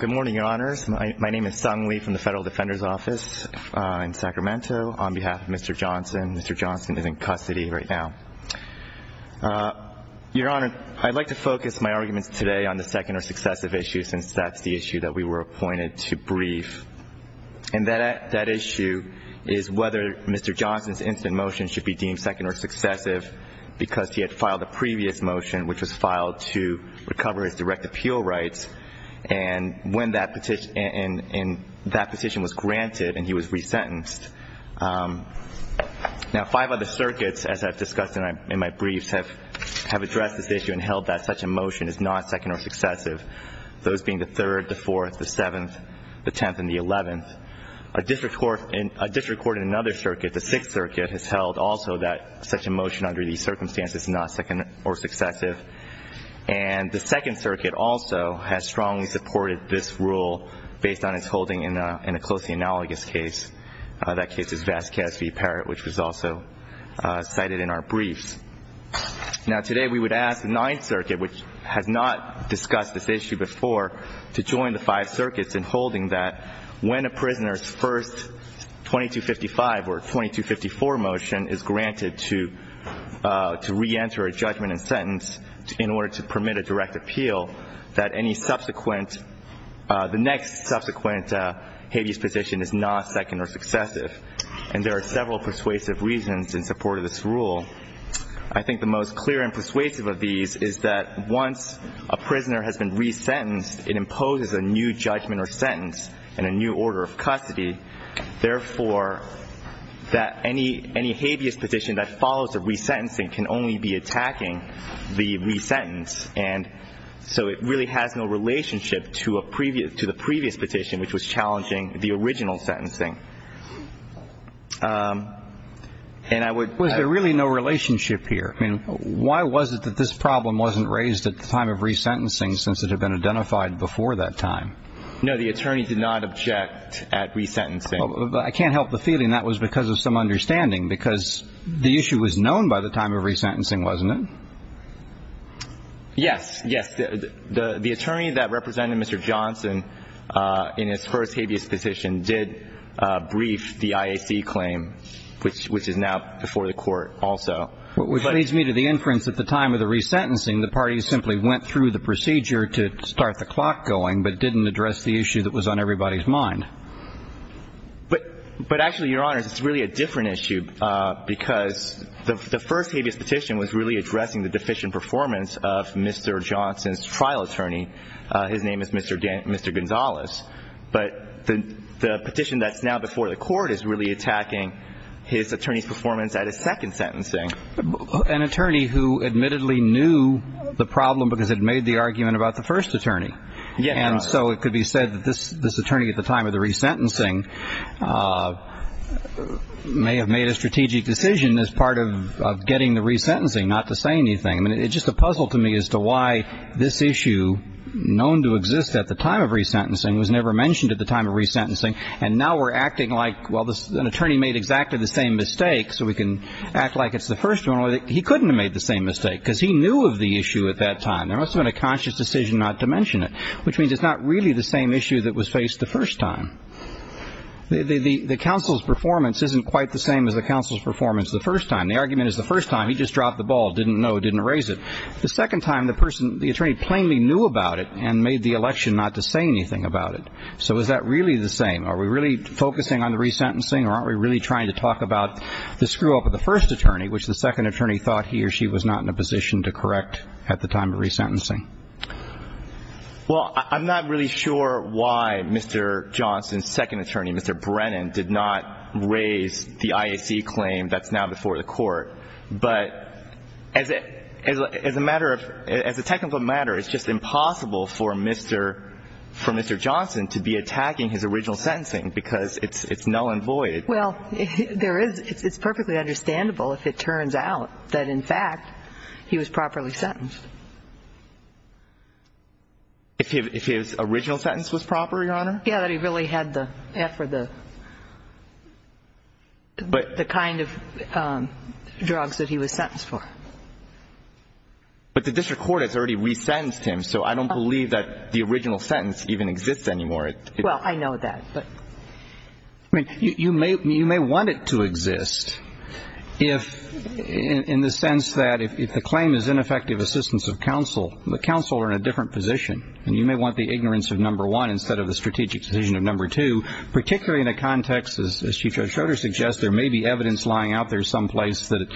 Good morning, Your Honors. My name is Sung Lee from the Federal Defender's Office in Sacramento. On behalf of Mr. Johnson, Mr. Johnson is in custody right now. Your Honor, I'd like to focus my arguments today on the second or successive issue, since that's the issue that we were appointed to brief. And that issue is whether Mr. Johnson's instant motion should be deemed second or successive because he had filed a previous motion, which was filed to recover his direct appeal rights, and when that petition was granted and he was resentenced. Now, five other circuits, as I've discussed in my briefs, have addressed this issue and held that such a motion is not second or successive, those being the Third, the Fourth, the Seventh, the Tenth, and the Eleventh. A district court in another circuit, the Sixth Circuit, has held also that such a motion under these circumstances is not second or successive. And the Second Circuit also has strongly supported this rule based on its holding in a closely analogous case. That case is Vasquez v. Parrott, which was also cited in our briefs. Now, today we would ask the Ninth Circuit, which has not discussed this issue before, to join the five circuits in holding that when a prisoner's first 2255 or 2254 motion is granted to reenter a judgment and sentence in order to permit a direct appeal, that any subsequent, the next subsequent habeas petition is not second or successive. And there are several persuasive reasons in support of this rule. I think the most clear and persuasive of these is that once a prisoner has been resentenced, it imposes a new judgment or sentence and a new order of custody. Therefore, that any habeas petition that follows a resentencing can only be attacking the resentence. And so it really has no relationship to a previous, to the previous petition, which was challenging the original sentencing. And I would ---- Was there really no relationship here? I mean, why was it that this problem wasn't raised at the time of resentencing since it had been identified before that time? No. The attorney did not object at resentencing. I can't help the feeling that was because of some understanding, because the issue was known by the time of resentencing, wasn't it? Yes. Yes. The attorney that represented Mr. Johnson in his first habeas petition did brief the IAC claim, which is now before the Court also. Which leads me to the inference that at the time of the resentencing, the parties simply went through the procedure to start the clock going but didn't address the issue that was on everybody's mind. But actually, Your Honors, it's really a different issue, because the first habeas petition was really addressing the deficient performance of Mr. Johnson's trial attorney. His name is Mr. Gonzales. But the petition that's now before the Court is really attacking his attorney's performance at his second sentencing. An attorney who admittedly knew the problem because it made the argument about the first attorney. Yes. And so it could be said that this attorney at the time of the resentencing may have made a strategic decision as part of getting the resentencing, not to say anything. I mean, it's just a puzzle to me as to why this issue, known to exist at the time of resentencing, was never mentioned at the time of resentencing. And now we're acting like, well, an attorney made exactly the same mistake, so we can act like it's the first one. He couldn't have made the same mistake, because he knew of the issue at that time. There must have been a conscious decision not to mention it, which means it's not really the same issue that was faced the first time. The counsel's performance isn't quite the same as the counsel's performance the first time. The argument is the first time, he just dropped the ball, didn't know, didn't raise it. The second time, the attorney plainly knew about it and made the election not to say anything about it. So is that really the same? Are we really focusing on the resentencing, or aren't we really trying to talk about the screw-up of the first attorney, which the second attorney thought he or she was not in a position to correct at the time of resentencing? Well, I'm not really sure why Mr. Johnson's second attorney, Mr. Brennan, did not raise the IAC claim that's now before the court. But as a matter of ‑‑ as a technical matter, it's just impossible for Mr. Johnson to be attacking his original sentencing, because it's null and void. Well, there is ‑‑ it's perfectly understandable if it turns out that, in fact, he was properly sentenced. If his original sentence was proper, Your Honor? Yeah, that he really had the ‑‑ for the kind of drugs that he was sentenced for. But the district court has already resentenced him, so I don't believe that the original sentence even exists anymore. Well, I know that. I mean, you may want it to exist, in the sense that if the claim is ineffective assistance of counsel, the counsel are in a different position, and you may want the ignorance of number one instead of the strategic decision of number two, particularly in a context, as Chief Judge Schroeder suggests, there may be evidence lying out there someplace that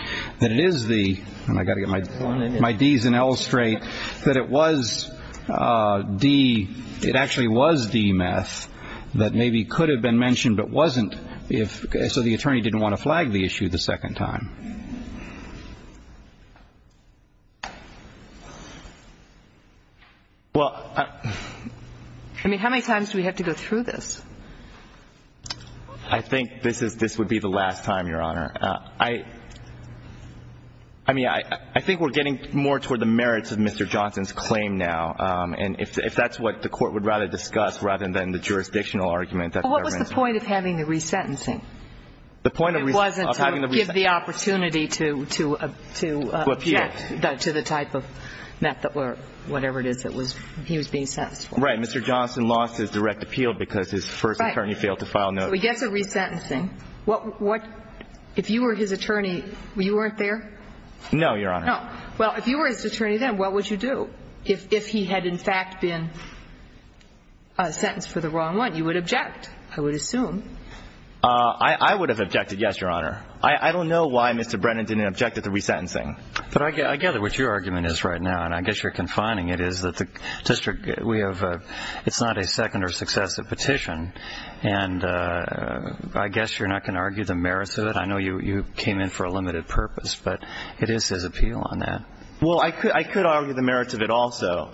it is the ‑‑ and I've got to get my Ds in L straight, that it was the ‑‑ it actually was the meth that maybe could have been mentioned but wasn't, so the attorney didn't want to flag the issue the second time. Well, I ‑‑ I mean, how many times do we have to go through this? I think this is ‑‑ this would be the last time, Your Honor. I mean, I think we're getting more toward the merits of Mr. Johnson's claim now, and if that's what the court would rather discuss rather than the jurisdictional argument that ‑‑ Well, what was the point of having the resentencing? The point of ‑‑ It wasn't to give the opportunity to object to the type of meth or whatever it is that he was being sentenced for. Right. Mr. Johnson lost his direct appeal because his first attorney failed to file notice. Right. So he gets a resentencing. If you were his attorney, you weren't there? No, Your Honor. No. Well, if you were his attorney then, what would you do? If he had in fact been sentenced for the wrong one, you would object, I would assume. I would have objected, yes, Your Honor. I don't know why Mr. Brennan didn't object to the resentencing. But I gather what your argument is right now, and I guess you're confining it, it's not a second or successive petition, and I guess you're not going to argue the merits of it. I know you came in for a limited purpose, but it is his appeal on that. Well, I could argue the merits of it also,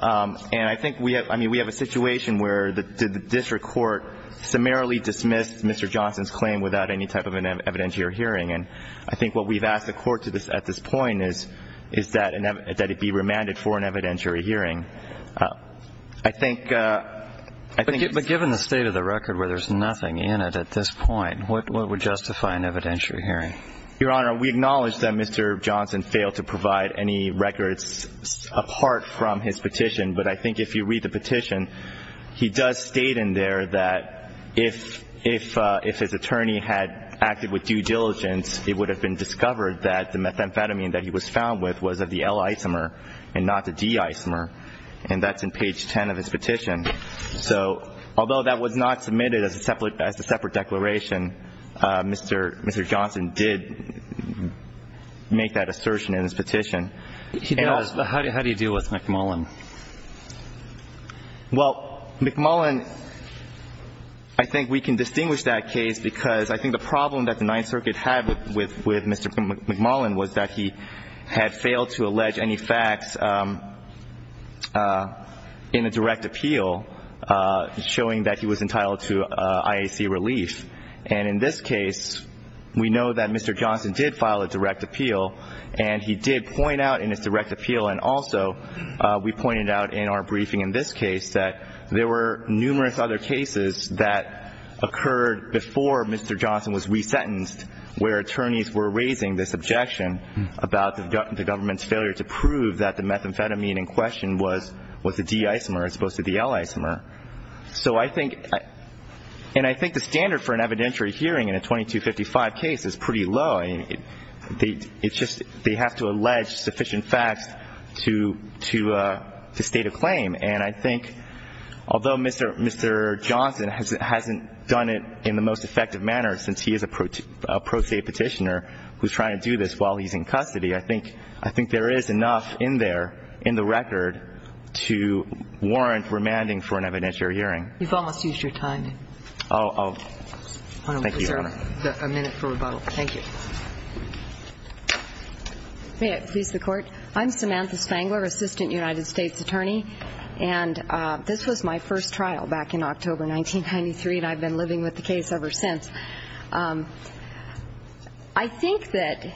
and I think we have a situation where the district court summarily dismissed Mr. Johnson's claim without any type of an evidentiary hearing, and I think what we've asked the court at this point is that it be remanded for an evidentiary hearing. But given the state of the record where there's nothing in it at this point, what would justify an evidentiary hearing? Your Honor, we acknowledge that Mr. Johnson failed to provide any records apart from his petition, but I think if you read the petition, he does state in there that if his attorney had acted with due diligence, it would have been discovered that the methamphetamine that he was found with was of the L isomer and not the D isomer, and that's in page 10 of his petition. So although that was not submitted as a separate declaration, Mr. Johnson did make that assertion in his petition. How do you deal with McMullen? Well, McMullen, I think we can distinguish that case because I think the problem that the Ninth Circuit had with Mr. McMullen was that he had failed to allege any facts in a direct appeal showing that he was entitled to IAC relief. And in this case, we know that Mr. Johnson did file a direct appeal, and he did point out in his direct appeal, and also we pointed out in our briefing in this case, that there were numerous other cases that occurred before Mr. Johnson was resentenced where attorneys were raising this objection about the government's failure to prove that the methamphetamine in question was the D isomer as opposed to the L isomer. So I think the standard for an evidentiary hearing in a 2255 case is pretty low. It's just they have to allege sufficient facts to state a claim. And I think although Mr. Johnson hasn't done it in the most effective manner since he is a pro se petitioner who's trying to do this while he's in custody, I think there is enough in there, in the record, to warrant remanding for an evidentiary hearing. You've almost used your time. Thank you, Your Honor. A minute for rebuttal. Thank you. May it please the Court. I'm Samantha Spangler, assistant United States attorney. And this was my first trial back in October 1993, and I've been living with the case ever since. I think that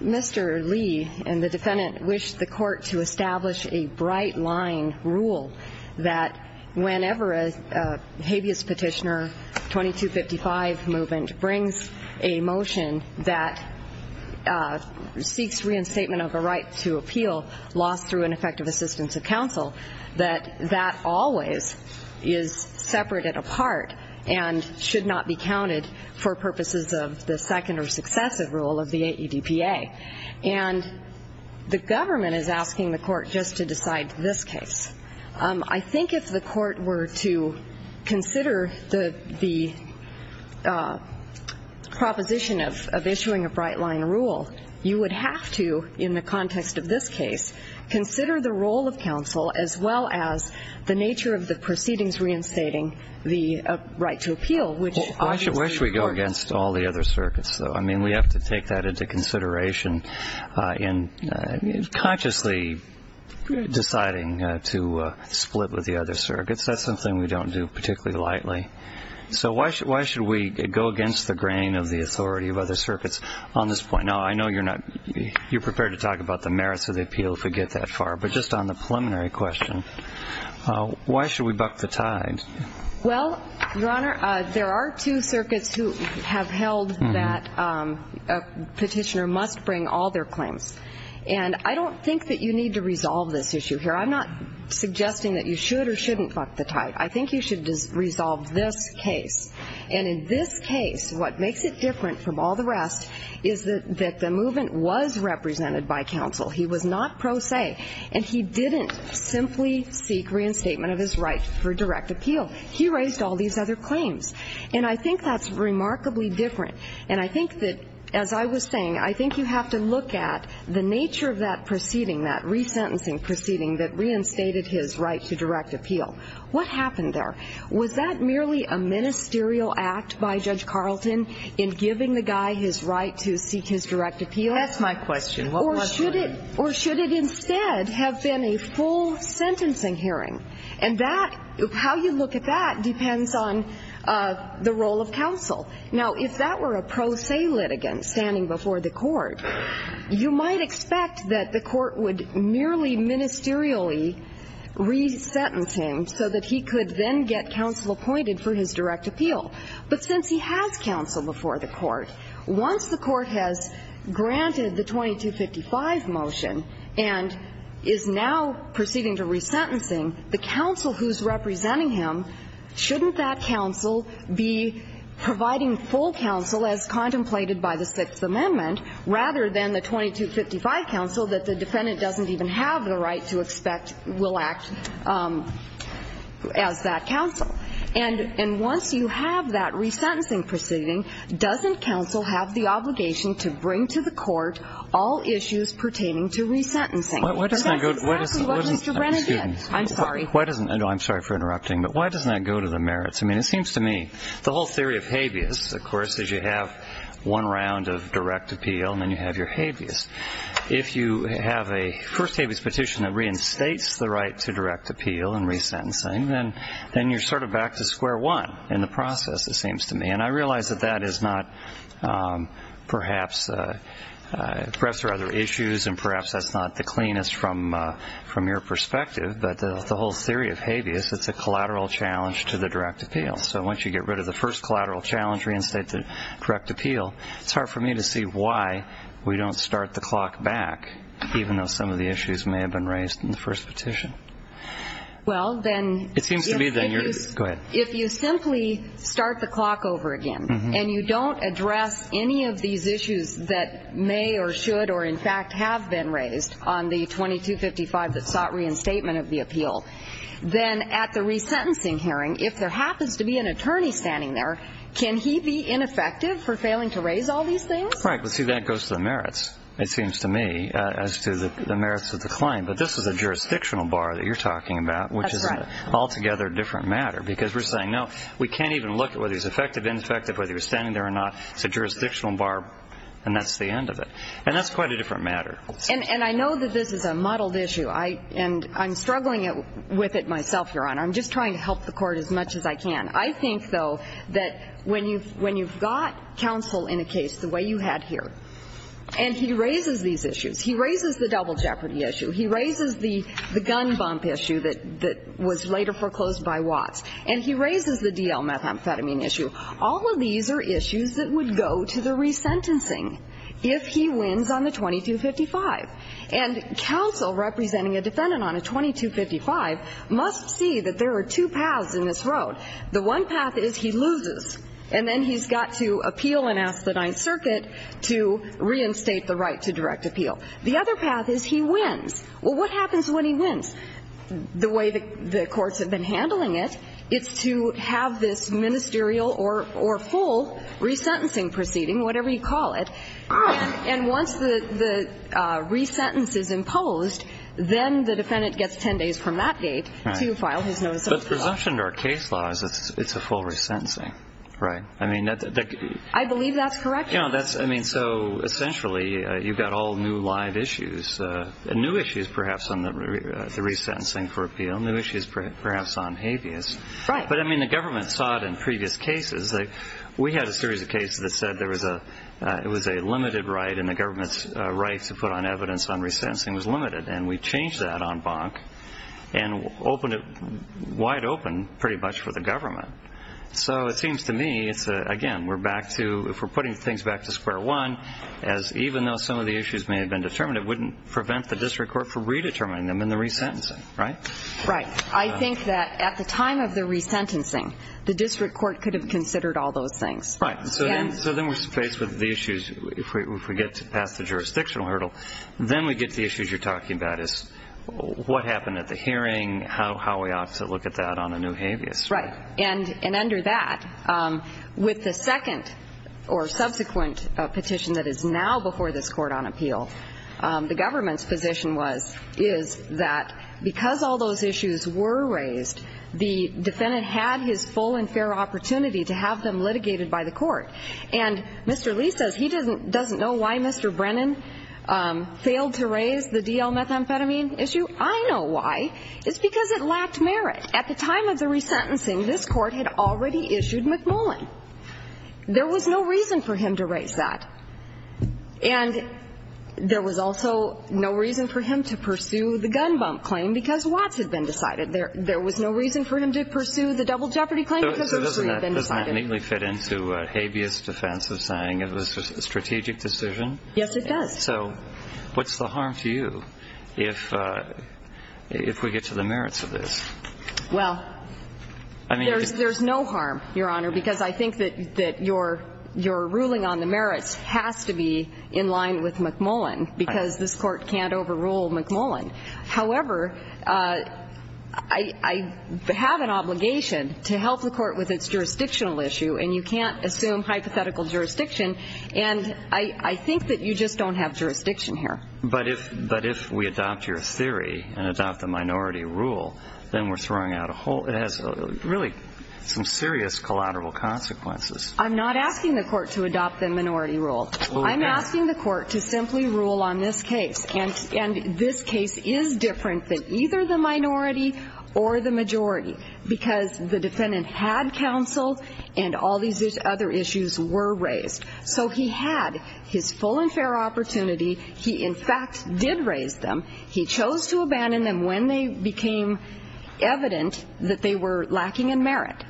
Mr. Lee and the defendant wished the Court to establish a bright-line rule that whenever a habeas petitioner, 2255 movement, brings a motion that seeks reinstatement of a right to appeal lost through ineffective assistance of counsel, that that always is separated apart and should not be counted for purposes of the second or successive rule of the AEDPA. And the government is asking the Court just to decide this case. I think if the Court were to consider the proposition of issuing a bright-line rule, you would have to, in the context of this case, consider the role of counsel, as well as the nature of the proceedings reinstating the right to appeal, which is important. Well, where should we go against all the other circuits, though? I mean, we have to take that into consideration in consciously deciding to split with the other circuits. That's something we don't do particularly lightly. So why should we go against the grain of the authority of other circuits on this point? Now, I know you're prepared to talk about the merits of the appeal if we get that far, but just on the preliminary question, why should we buck the tide? Well, Your Honor, there are two circuits who have held that a petitioner must bring all their claims. And I don't think that you need to resolve this issue here. I'm not suggesting that you should or shouldn't buck the tide. I think you should resolve this case. And in this case, what makes it different from all the rest is that the movement was represented by counsel. He was not pro se. And he didn't simply seek reinstatement of his right for direct appeal. He raised all these other claims. And I think that's remarkably different. And I think that, as I was saying, I think you have to look at the nature of that proceeding, that resentencing proceeding that reinstated his right to direct appeal. What happened there? Was that merely a ministerial act by Judge Carlton in giving the guy his right to seek his direct appeal? That's my question. What was it? Or should it instead have been a full sentencing hearing? And that, how you look at that depends on the role of counsel. Now, if that were a pro se litigant standing before the court, you might expect that the court would merely ministerially resentence him so that he could then get counsel appointed for his direct appeal. But since he has counsel before the court, once the court has granted the 2255 motion and is now proceeding to resentencing, the counsel who's representing him, shouldn't that counsel be providing full counsel as contemplated by the Sixth Amendment rather than the 2255 counsel that the defendant doesn't even have the right to expect will act as that counsel? And once you have that resentencing proceeding, doesn't counsel have the obligation to bring to the court all issues pertaining to resentencing? And that's exactly what Mr. Brennan did. I'm sorry. I'm sorry for interrupting, but why doesn't that go to the merits? I mean, it seems to me the whole theory of habeas, of course, is you have one round of direct appeal and then you have your habeas. If you have a first habeas petition that reinstates the right to direct appeal and resentencing, then you're sort of back to square one in the process, it seems to me. And I realize that that is not perhaps rather issues and perhaps that's not the cleanest from your perspective, but the whole theory of habeas is it's a collateral challenge to the direct appeal. So once you get rid of the first collateral challenge, reinstate the direct appeal, it's hard for me to see why we don't start the clock back, even though some of the issues may have been raised in the first petition. Well, then if you simply start the clock over again and you don't address any of these issues that may or should or, in fact, have been raised on the 2255 that sought reinstatement of the appeal, then at the resentencing hearing, if there happens to be an attorney standing there, can he be ineffective for failing to raise all these things? Right, but see, that goes to the merits, it seems to me, as to the merits of the claim. But this is a jurisdictional bar that you're talking about, which is an altogether different matter, because we're saying, no, we can't even look at whether he's effective, ineffective, whether he was standing there or not. It's a jurisdictional bar and that's the end of it. And that's quite a different matter. And I know that this is a muddled issue, and I'm struggling with it myself, Your Honor. I'm just trying to help the Court as much as I can. I think, though, that when you've got counsel in a case the way you had here and he raises these issues, he raises the double jeopardy issue, he raises the gun bump issue that was later foreclosed by Watts, and he raises the DL methamphetamine issue, all of these are issues that would go to the resentencing if he wins on the 2255. And counsel representing a defendant on a 2255 must see that there are two paths in this road. The one path is he loses, and then he's got to appeal and ask the Ninth Circuit to reinstate the right to direct appeal. The other path is he wins. Well, what happens when he wins? The way the courts have been handling it, it's to have this ministerial or full resentencing proceeding, whatever you call it. And once the resentence is imposed, then the defendant gets 10 days from that date to file his notice of appeal. But the presumption in our case law is it's a full resentencing, right? I believe that's correct, Your Honor. So essentially, you've got all new live issues, new issues perhaps on the resentencing for appeal, new issues perhaps on habeas. But the government saw it in previous cases. We had a series of cases that said it was a limited right and the government's right to put on evidence on resentencing was limited, and we changed that on Bonk and opened it wide open pretty much for the government. So it seems to me, again, if we're putting things back to square one, even though some of the issues may have been determined, it wouldn't prevent the district court from redetermining them in the resentencing, right? Right. I think that at the time of the resentencing, the district court could have considered all those things. Right. So then we're faced with the issues if we get past the jurisdictional hurdle. Then we get to the issues you're talking about is what happened at the hearing, how we ought to look at that on a new habeas. Right. And under that, with the second or subsequent petition that is now before this court on appeal, the government's position is that because all those issues were raised, the defendant had his full and fair opportunity to have them litigated by the court. And Mr. Lee says he doesn't know why Mr. Brennan failed to raise the DL methamphetamine issue. I know why. It's because it lacked merit. At the time of the resentencing, this court had already issued McMullen. There was no reason for him to raise that. And there was also no reason for him to pursue the gun bump claim because Watts had been decided. There was no reason for him to pursue the double jeopardy claim because Hershey had been decided. Doesn't that neatly fit into habeas defense of saying it was a strategic decision? Yes, it does. So what's the harm to you if we get to the merits of this? Well, there's no harm, Your Honor, because I think that your ruling on the merits has to be in line with McMullen because this court can't overrule McMullen. However, I have an obligation to help the court with its jurisdictional issue, and you can't assume hypothetical jurisdiction. And I think that you just don't have jurisdiction here. But if we adopt your theory and adopt the minority rule, then we're throwing out a hole. It has really some serious collateral consequences. I'm not asking the court to adopt the minority rule. I'm asking the court to simply rule on this case, and this case is different than either the minority or the majority because the defendant had counsel and all these other issues were raised. So he had his full and fair opportunity. He, in fact, did raise them. He chose to abandon them when they became evident that they were lacking in merit.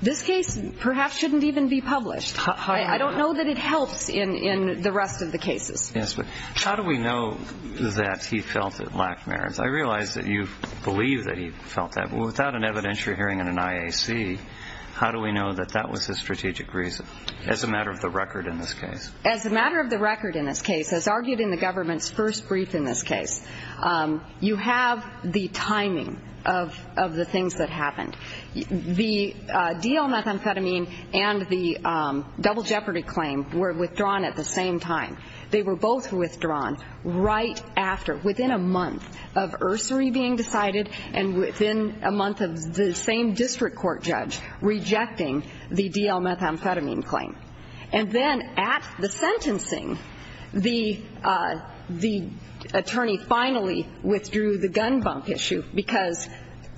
This case perhaps shouldn't even be published. I don't know that it helps in the rest of the cases. Yes, but how do we know that he felt it lacked merit? I realize that you believe that he felt that. But without an evidentiary hearing in an IAC, how do we know that that was his strategic reason? As a matter of the record in this case. As a matter of the record in this case, as argued in the government's first brief in this case, you have the timing of the things that happened. The DL methamphetamine and the double jeopardy claim were withdrawn at the same time. They were both withdrawn right after, within a month of Ursery being decided and within a month of the same district court judge rejecting the DL methamphetamine claim. And then at the sentencing, the attorney finally withdrew the gun bump issue because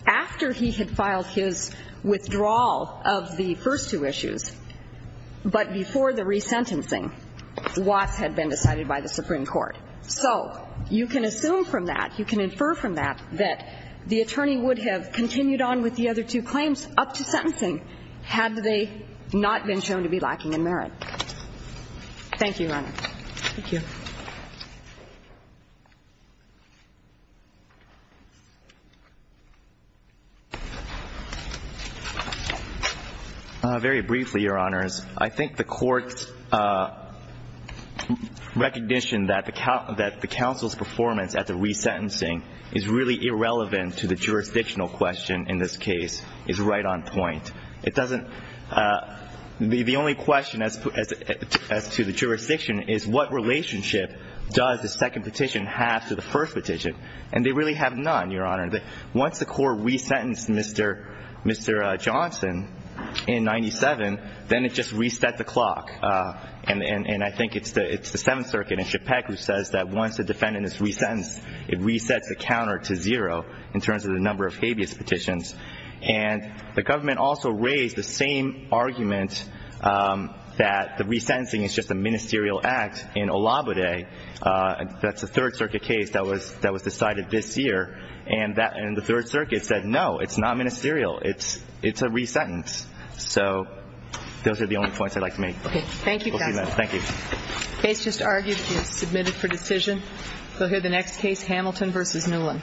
after he had filed his withdrawal of the first two issues, but before the resentencing, Watts had been decided by the Supreme Court. So you can assume from that, you can infer from that, that the attorney would have continued on with the other two claims up to sentencing had they not been shown to be lacking in merit. Thank you, Your Honor. Thank you. Very briefly, Your Honors, I think the court's recognition that the counsel's performance at the resentencing is really irrelevant to the jurisdictional question in this case is right on point. The only question as to the jurisdiction is, what relationship does the second petition have to the first petition? And they really have none, Your Honor. Once the court resentenced Mr. Johnson in 97, then it just reset the clock. And I think it's the Seventh Circuit in Chipek who says that once the defendant is resentenced, it resets the counter to zero in terms of the number of habeas petitions. And the government also raised the same argument that the resentencing is just a ministerial act in Olabodeh. That's a Third Circuit case that was decided this year. And the Third Circuit said, no, it's not ministerial. It's a resentence. So those are the only points I'd like to make. Okay. Thank you, counsel. Thank you. Case just argued and submitted for decision. We'll hear the next case, Hamilton v. Newland. Thank you.